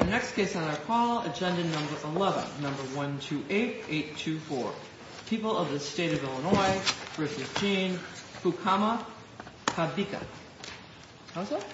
Our next case on our call, agenda number 11, number 128824. People of the State of Illinois v. Gene Fukama-Kabika. How's that?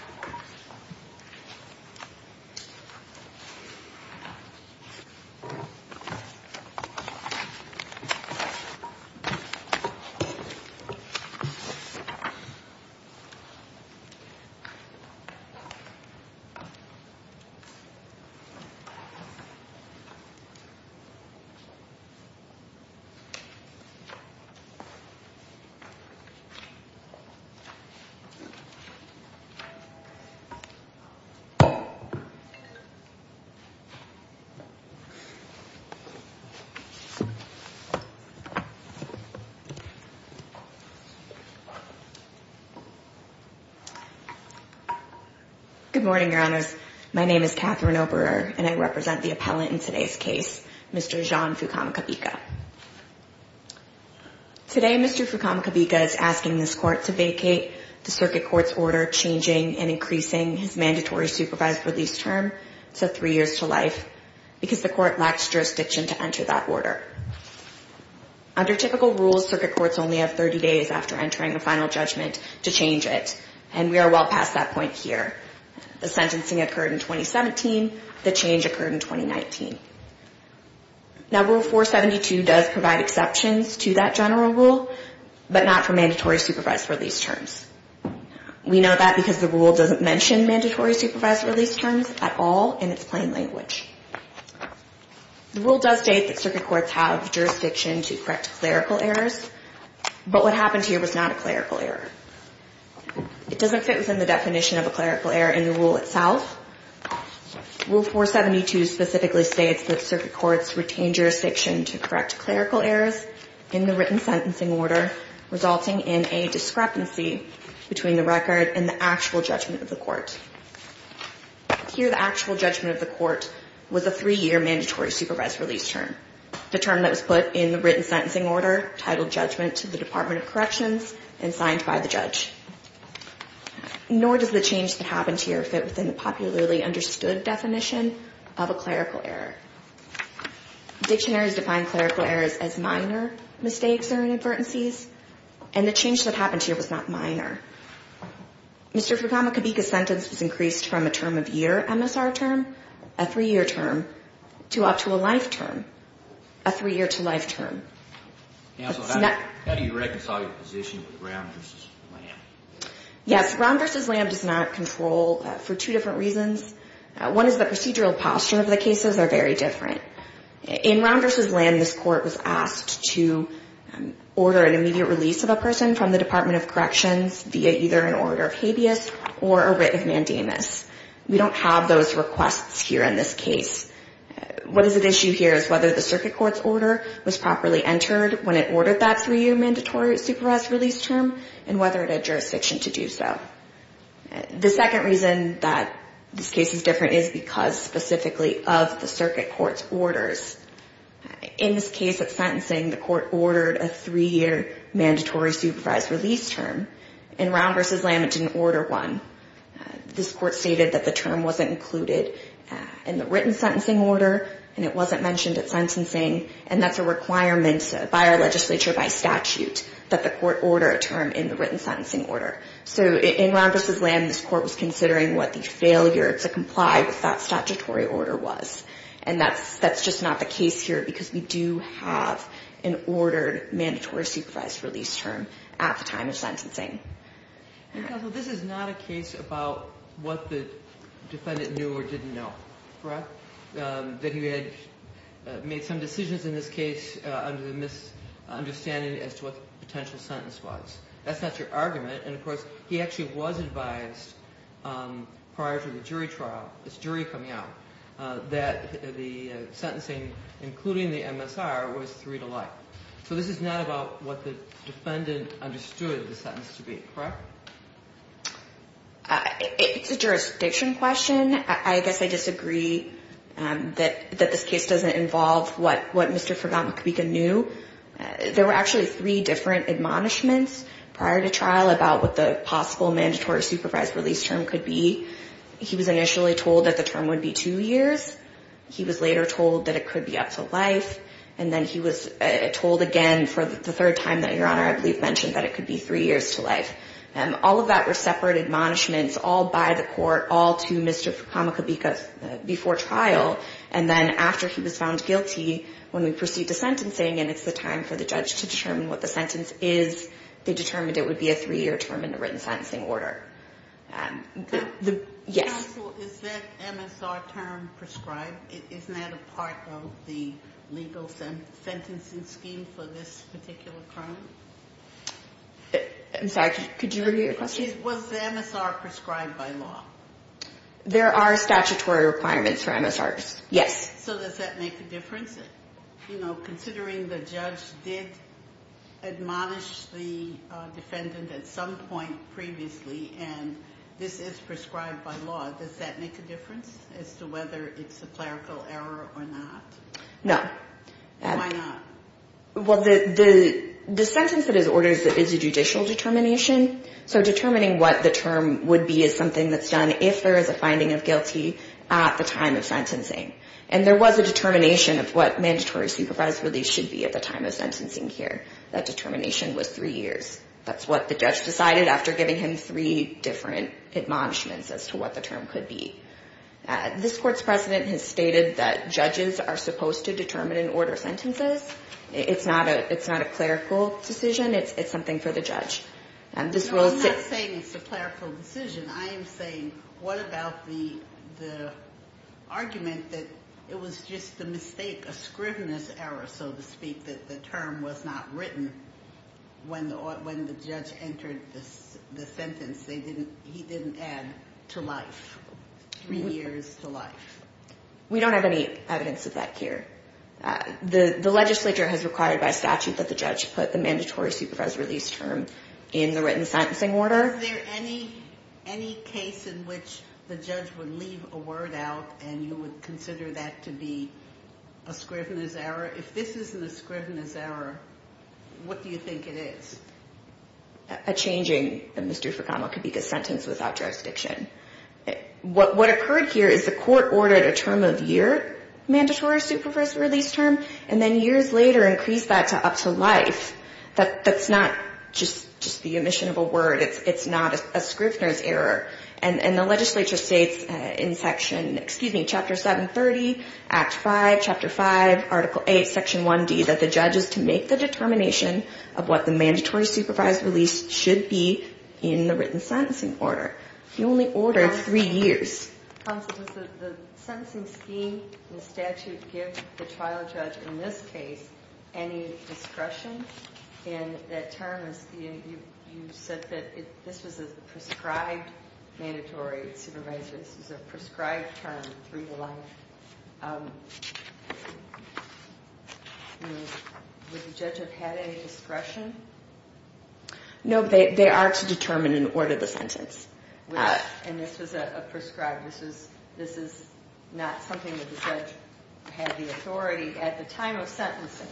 Good morning, your honors. My name is Catherine Oberer, and I represent the appellant in today's case, Mr. Jean Fukama-Kabika. Today, Mr. Fukama-Kabika is asking this court to vacate the circuit court's order changing and increasing his mandatory supervised release term to three years to life because the court lacks jurisdiction to enter that order. Under typical rules, circuit courts only have 30 days after entering a final judgment to change it, and we are well past that point here. The sentencing occurred in 2017. The change occurred in 2019. Now, Rule 472 does provide exceptions to that general rule, but not for mandatory supervised release terms. We know that because the rule doesn't mention mandatory supervised release terms at all in its plain language. The rule does state that circuit courts have jurisdiction to correct clerical errors, but what happened here was not a clerical error. It doesn't fit within the definition of a clerical error in the rule itself. Rule 472 specifically states that circuit courts retain jurisdiction to correct clerical errors in the written sentencing order, resulting in a discrepancy between the record and the actual judgment of the court. Here, the actual judgment of the court was a three-year mandatory supervised release term. The term that was put in the written sentencing order titled judgment to the Department of Corrections and signed by the judge. Nor does the change that happened here fit within the popularly understood definition of a clerical error. Dictionaries define clerical errors as minor mistakes or inadvertencies, and the change that happened here was not minor. Mr. Fukamakabika's sentence was increased from a term-of-year MSR term, a three-year term, to up to a life term, a three-year-to-life term. Counsel, how do you reconcile your position with Round v. Lamb? Yes, Round v. Lamb does not control for two different reasons. One is the procedural posture of the cases are very different. In Round v. Lamb, this court was asked to order an immediate release of a person from the Department of Corrections via either an order of habeas or a writ of mandamus. We don't have those requests here in this case. What is at issue here is whether the circuit court's order was properly entered when it ordered that three-year mandatory supervised release term, and whether it had jurisdiction to do so. The second reason that this case is different is because specifically of the circuit court's orders. In this case of sentencing, the court ordered a three-year mandatory supervised release term. In Round v. Lamb, it didn't order one. This court stated that the term wasn't included in the written sentencing order, and it wasn't mentioned at sentencing, and that's a requirement by our legislature by statute that the court order a term in the written sentencing order. So in Round v. Lamb, this court was considering what the failure to comply with that statutory order was, and that's just not the case here because we do have an ordered mandatory supervised release term at the time of sentencing. Counsel, this is not a case about what the defendant knew or didn't know, correct, that he had made some decisions in this case under the misunderstanding as to what the potential sentence was. That's not your argument. And, of course, he actually was advised prior to the jury trial, this jury coming out, that the sentencing, including the MSR, was three to life. So this is not about what the defendant understood the sentence to be, correct? It's a jurisdiction question. I guess I disagree that this case doesn't involve what Mr. Ferdot-McKeegan knew. There were actually three different admonishments prior to trial about what the possible mandatory supervised release term could be. He was initially told that the term would be two years. He was later told that it could be up to life. And then he was told again for the third time that, Your Honor, I believe mentioned that it could be three years to life. All of that were separate admonishments, all by the court, all to Mr. Kamakabika before trial. And then after he was found guilty, when we proceed to sentencing and it's the time for the judge to determine what the sentence is, they determined it would be a three-year term in the written sentencing order. Yes? Counsel, is that MSR term prescribed? Isn't that a part of the legal sentencing scheme for this particular crime? I'm sorry, could you repeat your question? Was the MSR prescribed by law? There are statutory requirements for MSRs, yes. So does that make a difference, you know, considering the judge did admonish the defendant at some point previously and this is prescribed by law, does that make a difference as to whether it's a clerical error or not? No. Why not? Well, the sentence that is ordered is a judicial determination. So determining what the term would be is something that's done if there is a finding of guilty at the time of sentencing. And there was a determination of what mandatory supervised release should be at the time of sentencing here. That determination was three years. That's what the judge decided after giving him three different admonishments as to what the term could be. This Court's precedent has stated that judges are supposed to determine and order sentences. It's not a clerical decision. It's something for the judge. No, I'm not saying it's a clerical decision. I am saying what about the argument that it was just a mistake, a scrivener's error, so to speak, that the term was not written when the judge entered the sentence. He didn't add to life, three years to life. We don't have any evidence of that here. The legislature has required by statute that the judge put the mandatory supervised release term in the written sentencing order. Is there any case in which the judge would leave a word out and you would consider that to be a scrivener's error? If this isn't a scrivener's error, what do you think it is? A changing of the misdue for comment could be the sentence without jurisdiction. What occurred here is the Court ordered a term of year, mandatory supervised release term, and then years later increased that to up to life. That's not just the omission of a word. It's not a scrivener's error. And the legislature states in Section, excuse me, Chapter 730, Act 5, Chapter 5, Article 8, Section 1D, that the judge is to make the determination of what the mandatory supervised release should be in the written sentencing order. You only order three years. Counsel, does the sentencing scheme in the statute give the trial judge in this case any discretion in that term? You said that this was a prescribed mandatory supervised release. This was a prescribed term through the life. Would the judge have had any discretion? No, they are to determine and order the sentence. And this was a prescribed? This is not something that the judge had the authority at the time of sentencing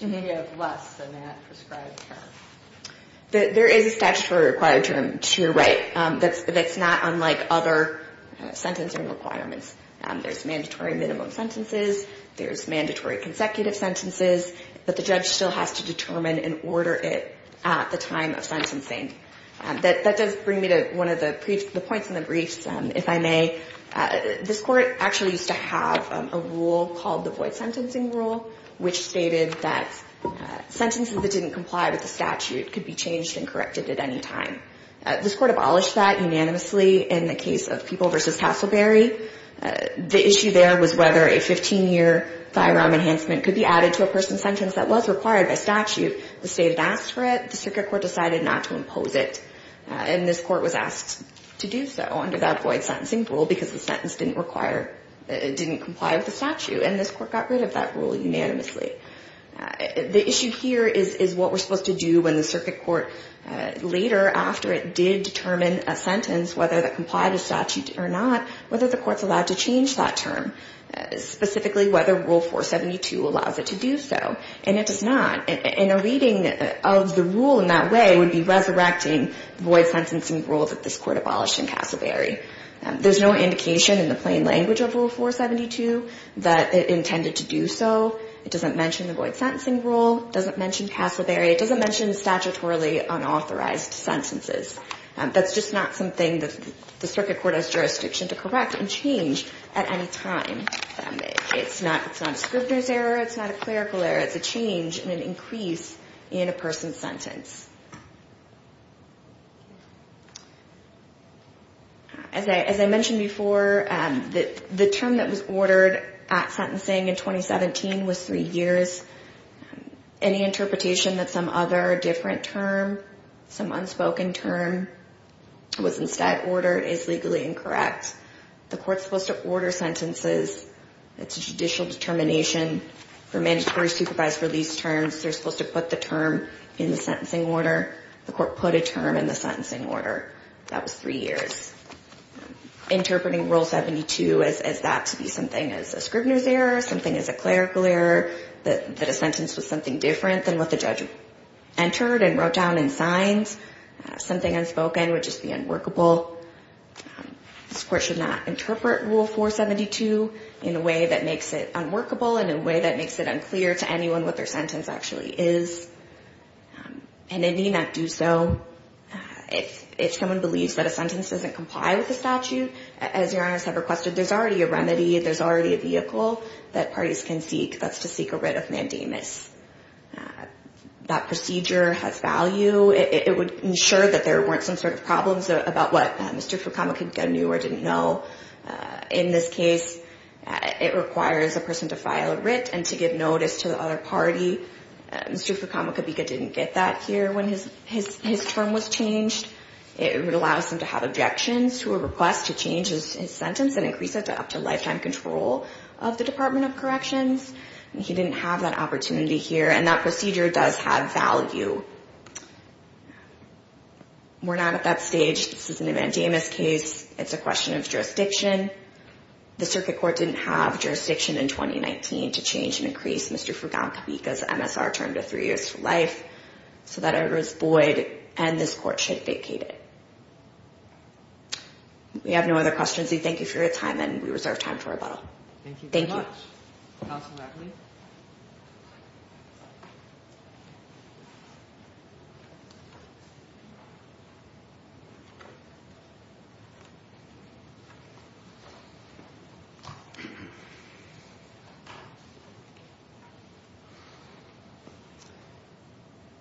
to give less than that prescribed term? There is a statutory required term to your right. That's not unlike other sentencing requirements. There's mandatory minimum sentences. There's mandatory consecutive sentences. But the judge still has to determine and order it at the time of sentencing. That does bring me to one of the points in the briefs, if I may. This court actually used to have a rule called the void sentencing rule, which stated that sentences that didn't comply with the statute could be changed and corrected at any time. This court abolished that unanimously in the case of People v. Castleberry. The issue there was whether a 15-year firearm enhancement could be added to a person's sentence that was required by statute. The state had asked for it. The circuit court decided not to impose it. And this court was asked to do so under that void sentencing rule because the sentence didn't comply with the statute. And this court got rid of that rule unanimously. The issue here is what we're supposed to do when the circuit court later after it did determine a sentence, whether that complied with statute or not, whether the court's allowed to change that term, specifically whether Rule 472 allows it to do so. And it does not. And a reading of the rule in that way would be resurrecting the void sentencing rule that this court abolished in Castleberry. There's no indication in the plain language of Rule 472 that it intended to do so. It doesn't mention the void sentencing rule. It doesn't mention Castleberry. It doesn't mention statutorily unauthorized sentences. That's just not something the circuit court has jurisdiction to correct and change at any time. It's not a scrivener's error. It's not a clerical error. It's a change and an increase in a person's sentence. As I mentioned before, the term that was ordered at sentencing in 2017 was three years. Any interpretation that some other different term, some unspoken term was instead ordered is legally incorrect. The court's supposed to order sentences. It's a judicial determination for mandatory supervised release terms. They're supposed to put the term in the sentencing order. The court put a term in the sentencing order. That was three years. Interpreting Rule 72 as that to be something as a scrivener's error, something as a clerical error, that a sentence was something different than what the judge entered and wrote down and signed, something unspoken would just be unworkable. This court should not interpret Rule 472 in a way that makes it unworkable and in a way that makes it unclear to anyone what their sentence actually is. And it need not do so. If someone believes that a sentence doesn't comply with the statute, as Your Honors have requested, there's already a remedy. There's already a vehicle that parties can seek. That's to seek a writ of mandamus. That procedure has value. It would ensure that there weren't some sort of problems about what Mr. Fukamika knew or didn't know. In this case, it requires a person to file a writ and to give notice to the other party. Mr. Fukamika didn't get that here when his term was changed. It would allow him to have objections to a request to change his sentence and increase it up to lifetime control of the Department of Corrections. He didn't have that opportunity here. And that procedure does have value. We're not at that stage. It's a question of jurisdiction. The Circuit Court didn't have jurisdiction in 2019 to change and increase Mr. Fukamika's MSR term to three years for life. So that order is void, and this Court should vacate it. We have no other questions. We thank you for your time, and we reserve time for rebuttal. Thank you. Thank you very much. Counsel Ratley?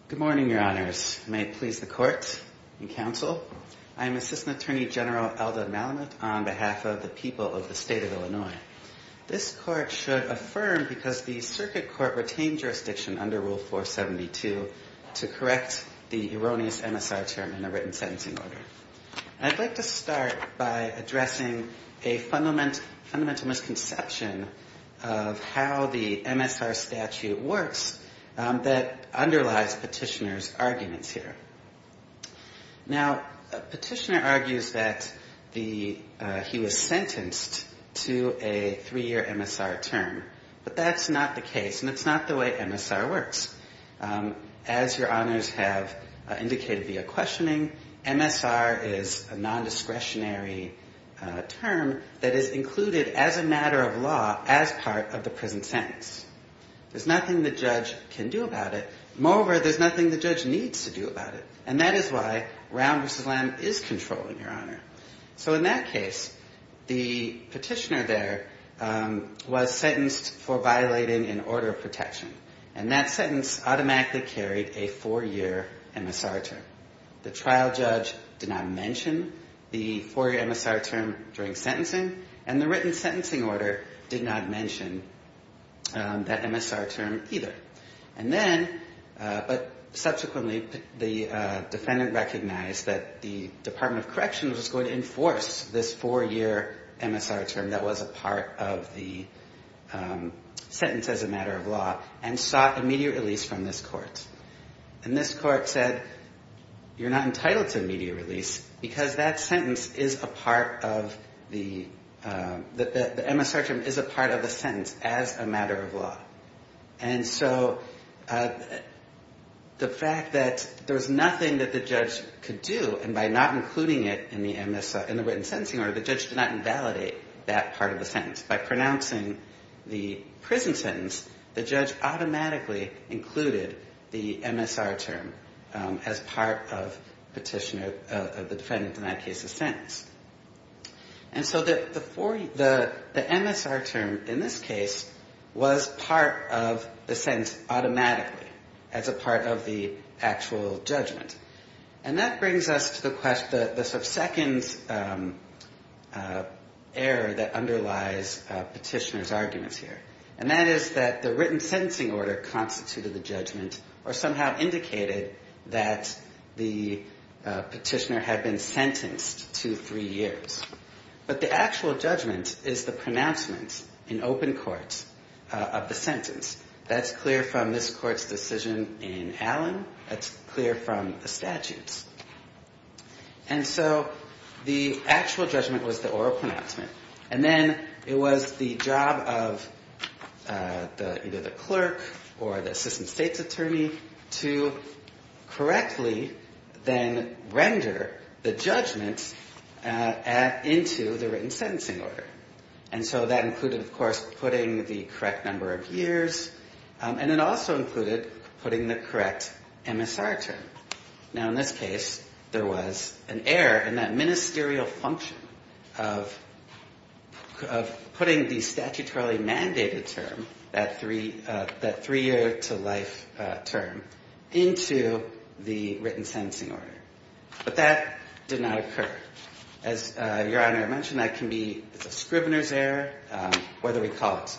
Good morning, Your Honors. May it please the Court and Counsel. I am Assistant Attorney General Elda Malamud on behalf of the people of the State of Illinois. This Court should affirm because the Circuit Court retained jurisdiction under Rule 472 to correct the erroneous MSR term in a written sentencing order. I'd like to start by addressing a fundamental misconception of how the MSR statute works that underlies Petitioner's arguments here. Now, Petitioner argues that he was sentenced to a three-year MSR term, but that's not the case, and it's not the way MSR works. As Your Honors have indicated via questioning, MSR is a nondiscretionary term that is included as a matter of law as part of the present sentence. There's nothing the judge can do about it. Moreover, there's nothing the judge needs to do about it, and that is why Round v. Lamb is controlling, Your Honor. So in that case, the Petitioner there was sentenced for violating an order of protection, and that sentence automatically carried a four-year MSR term. The trial judge did not mention the four-year MSR term during sentencing, and the written sentencing order did not mention that MSR term either. And then, but subsequently, the defendant recognized that the Department of Corrections was going to enforce this four-year MSR term that was a part of the sentence as a matter of law, and sought immediate release from this court. And this court said, you're not entitled to immediate release because that sentence is a part of the MSR term, is a part of the sentence as a matter of law. And so the fact that there was nothing that the judge could do, and by not including it in the MSR, in the written sentencing order, by pronouncing the prison sentence, the judge automatically included the MSR term as part of Petitioner, the defendant in that case's sentence. And so the MSR term in this case was part of the sentence automatically as a part of the actual judgment. And that brings us to the second error that underlies Petitioner's arguments here. And that is that the written sentencing order constituted the judgment, or somehow indicated that the Petitioner had been sentenced to three years. But the actual judgment is the pronouncement in open court of the sentence. That's clear from this court's decision in Allen. That's clear from the statutes. And so the actual judgment was the oral pronouncement. And then it was the job of either the clerk or the assistant state's attorney to correctly then render the judgment into the written sentencing order. And so that included, of course, putting the correct number of years. And it also included putting the correct MSR term. Now, in this case, there was an error in that ministerial function of putting the statutorily mandated term, that three-year-to-life term, into the written sentencing order. But that did not occur. As Your Honor mentioned, that can be a scrivener's error, whether we call it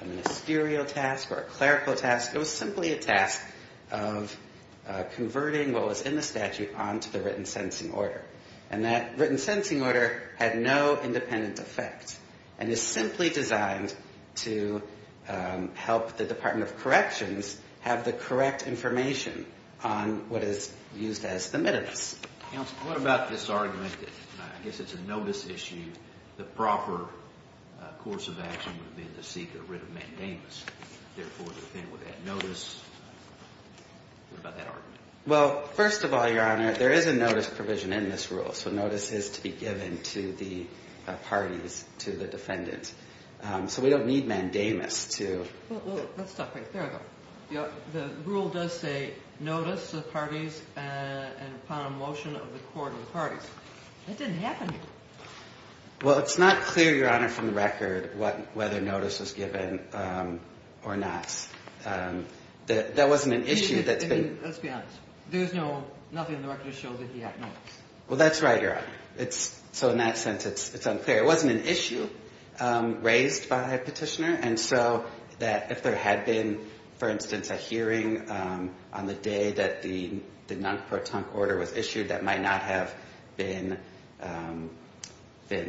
a ministerial task or a clerical task. It was simply a task of converting what was in the statute onto the written sentencing order. And that written sentencing order had no independent effect and is simply designed to help the Department of Corrections have the correct information on what is used as the minutes. Counsel, what about this argument that I guess it's a notice issue. The proper course of action would have been to seek a writ of mandamus. Therefore, the defendant would have notice. What about that argument? Well, first of all, Your Honor, there is a notice provision in this rule. So notice is to be given to the parties, to the defendants. So we don't need mandamus to – Well, let's stop right there, though. The rule does say notice to the parties and upon a motion of the court of the parties. That didn't happen. Well, it's not clear, Your Honor, from the record whether notice was given or not. That wasn't an issue that's been – Let's be honest. There's nothing in the record that shows that he had notice. Well, that's right, Your Honor. So in that sense, it's unclear. It wasn't an issue raised by a petitioner. And so that if there had been, for instance, a hearing on the day that the non-pertunct order was issued, that might not have been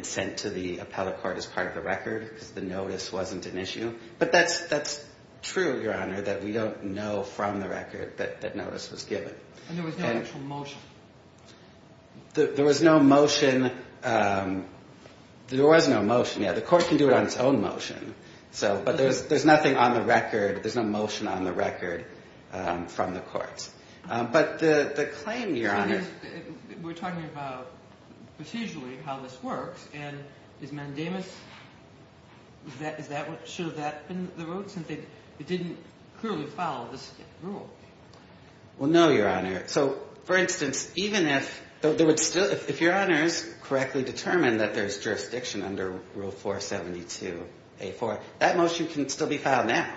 sent to the appellate court as part of the record because the notice wasn't an issue. But that's true, Your Honor, that we don't know from the record that notice was given. And there was no actual motion. There was no motion. There was no motion, yeah. The court can do it on its own motion. But there's nothing on the record. There's no motion on the record from the courts. But the claim, Your Honor – We're talking about procedurally how this works. And is mandamus – should that have been the rule since it didn't clearly follow this rule? Well, no, Your Honor. So, for instance, even if – if Your Honors correctly determine that there's jurisdiction under Rule 472A.4, that motion can still be filed now.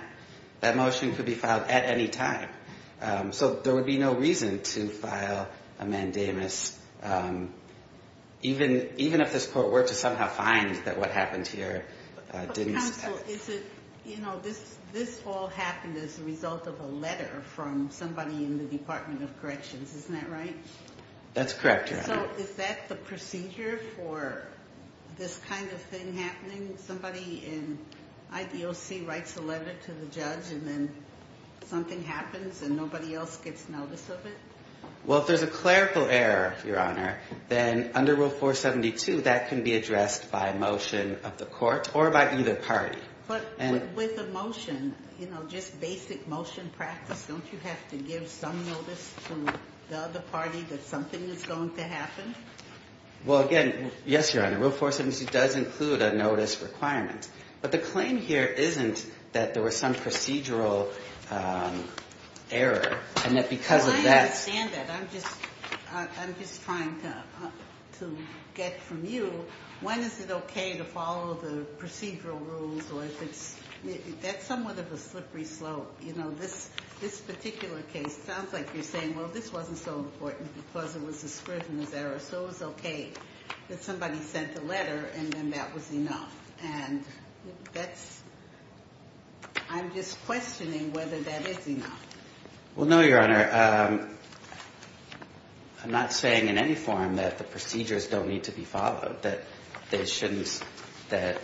That motion could be filed at any time. So there would be no reason to file a mandamus even if this court were to somehow find that what happened here didn't – So is it – you know, this all happened as a result of a letter from somebody in the Department of Corrections, isn't that right? That's correct, Your Honor. So is that the procedure for this kind of thing happening? Somebody in IDOC writes a letter to the judge and then something happens and nobody else gets notice of it? Well, if there's a clerical error, Your Honor, then under Rule 472, that can be addressed by motion of the court or by either party. But with a motion, you know, just basic motion practice, don't you have to give some notice to the other party that something is going to happen? Well, again, yes, Your Honor. Rule 472 does include a notice requirement. But the claim here isn't that there was some procedural error and that because of that – I'm just trying to get from you when is it okay to follow the procedural rules or if it's – that's somewhat of a slippery slope. You know, this particular case sounds like you're saying, well, this wasn't so important because it was a scrutiny error. So it was okay that somebody sent a letter and then that was enough. And that's – I'm just questioning whether that is enough. Well, no, Your Honor, I'm not saying in any form that the procedures don't need to be followed, that they shouldn't – that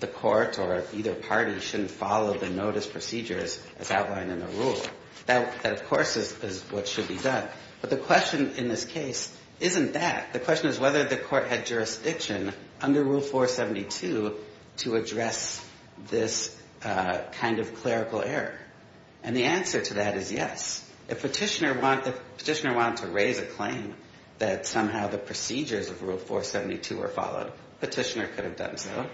the court or either party shouldn't follow the notice procedures as outlined in the rule. That, of course, is what should be done. But the question in this case isn't that. The question is whether the court had jurisdiction under Rule 472 to address this kind of clerical error. And the answer to that is yes. If Petitioner wanted to raise a claim that somehow the procedures of Rule 472 were followed, Petitioner could have done so.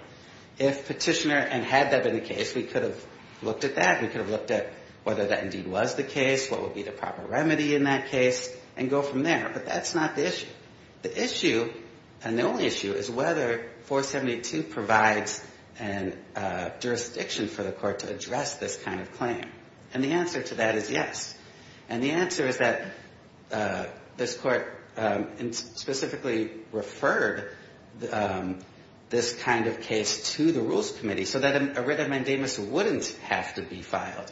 If Petitioner – and had that been the case, we could have looked at that. We could have looked at whether that indeed was the case, what would be the proper remedy in that case, and go from there. But that's not the issue. The issue, and the only issue, is whether 472 provides a jurisdiction for the court to address this kind of claim. And the answer to that is yes. And the answer is that this court specifically referred this kind of case to the Rules Committee so that a writ of mandamus wouldn't have to be filed,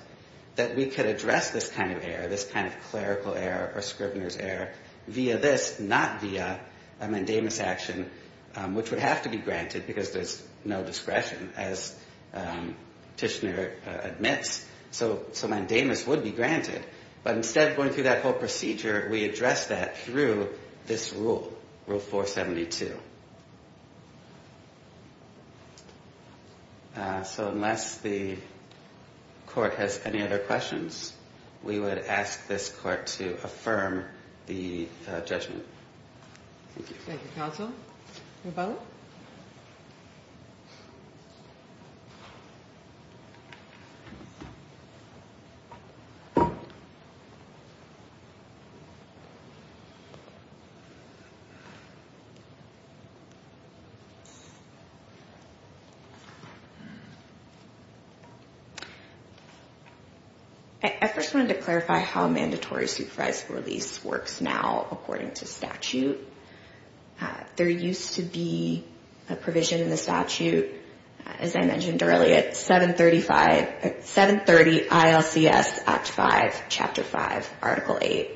that we could address this kind of error, this kind of clerical error or scrivener's error, via this, not via a mandamus action, which would have to be granted because there's no discretion, as Petitioner admits. So mandamus would be granted. But instead of going through that whole procedure, we address that through this rule, Rule 472. Thank you. So unless the court has any other questions, we would ask this court to affirm the judgment. Thank you, counsel. Rebella? I first wanted to clarify how mandatory supervisory release works now, according to statute. There used to be a provision in the statute, as I mentioned earlier, 730 ILCS Act 5, Chapter 5, Article 8.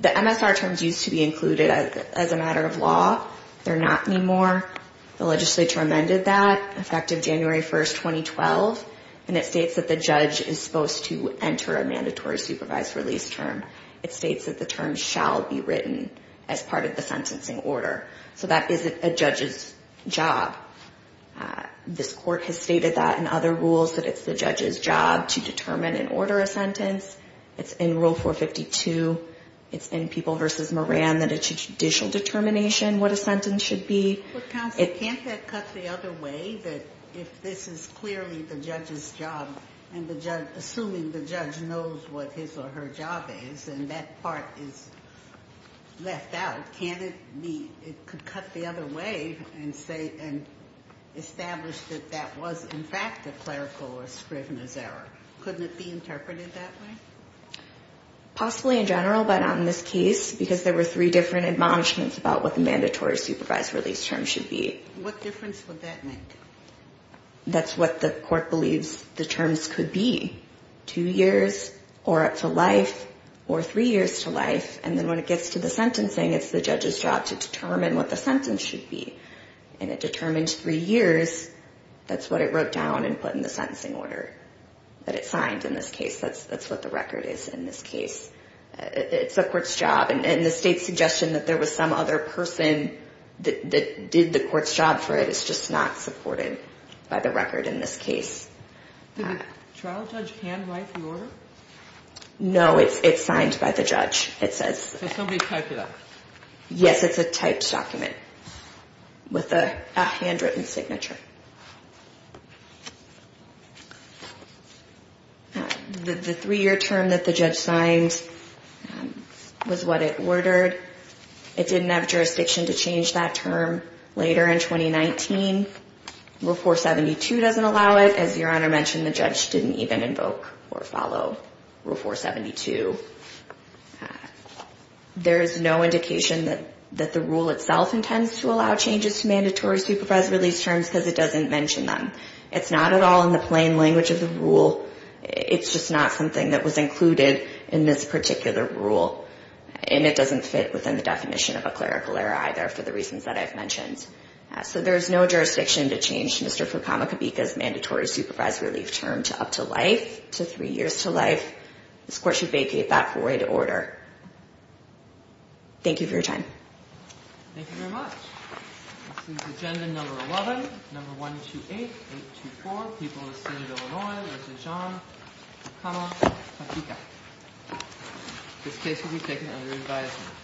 The MSR terms used to be included as a matter of law. They're not anymore. The legislature amended that, effective January 1, 2012. And it states that the judge is supposed to enter a mandatory supervised release term. It states that the term shall be written as part of the sentencing order. So that is a judge's job. This court has stated that in other rules, that it's the judge's job to determine and order a sentence. It's in Rule 452. It's in People v. Moran that it's a judicial determination what a sentence should be. But, counsel, can't that cut the other way? Can't it be that if this is clearly the judge's job, and the judge, assuming the judge knows what his or her job is, and that part is left out, can't it be it could cut the other way and say, and establish that that was, in fact, a clerical or scrivener's error? Couldn't it be interpreted that way? Possibly in general, but on this case, because there were three different admonishments about what the mandatory supervised release term should be. What difference would that make? That's what the court believes the terms could be. Two years, or up to life, or three years to life. And then when it gets to the sentencing, it's the judge's job to determine what the sentence should be. And it determines three years. That's what it wrote down and put in the sentencing order that it signed in this case. That's what the record is in this case. It's the court's job. And the state's suggestion that there was some other person that did the court's job for it is just not supported by the record in this case. Did the trial judge handwrite the order? No, it's signed by the judge. So somebody typed it up? Yes, it's a typed document with a handwritten signature. The three-year term that the judge signed was what it ordered. It didn't have jurisdiction to change that term later in 2019. Rule 472 doesn't allow it. As Your Honor mentioned, the judge didn't even invoke or follow Rule 472. There is no indication that the rule itself intends to allow changes to mandatory supervised release terms because it doesn't mention them. It's not at all in the plain language of the rule. It's just not something that was included in this particular rule. And it doesn't fit within the definition of a clerical error either for the reasons that I've mentioned. So there's no jurisdiction to change Mr. Furkama-Kabika's mandatory supervised relief term to up to life, to three years to life. This court should vacate that void order. Thank you for your time. Thank you very much. This is agenda number 11, number 128, 824, People of the State of Illinois, Mr. John Furkama-Kabika. This case will be taken under advisement.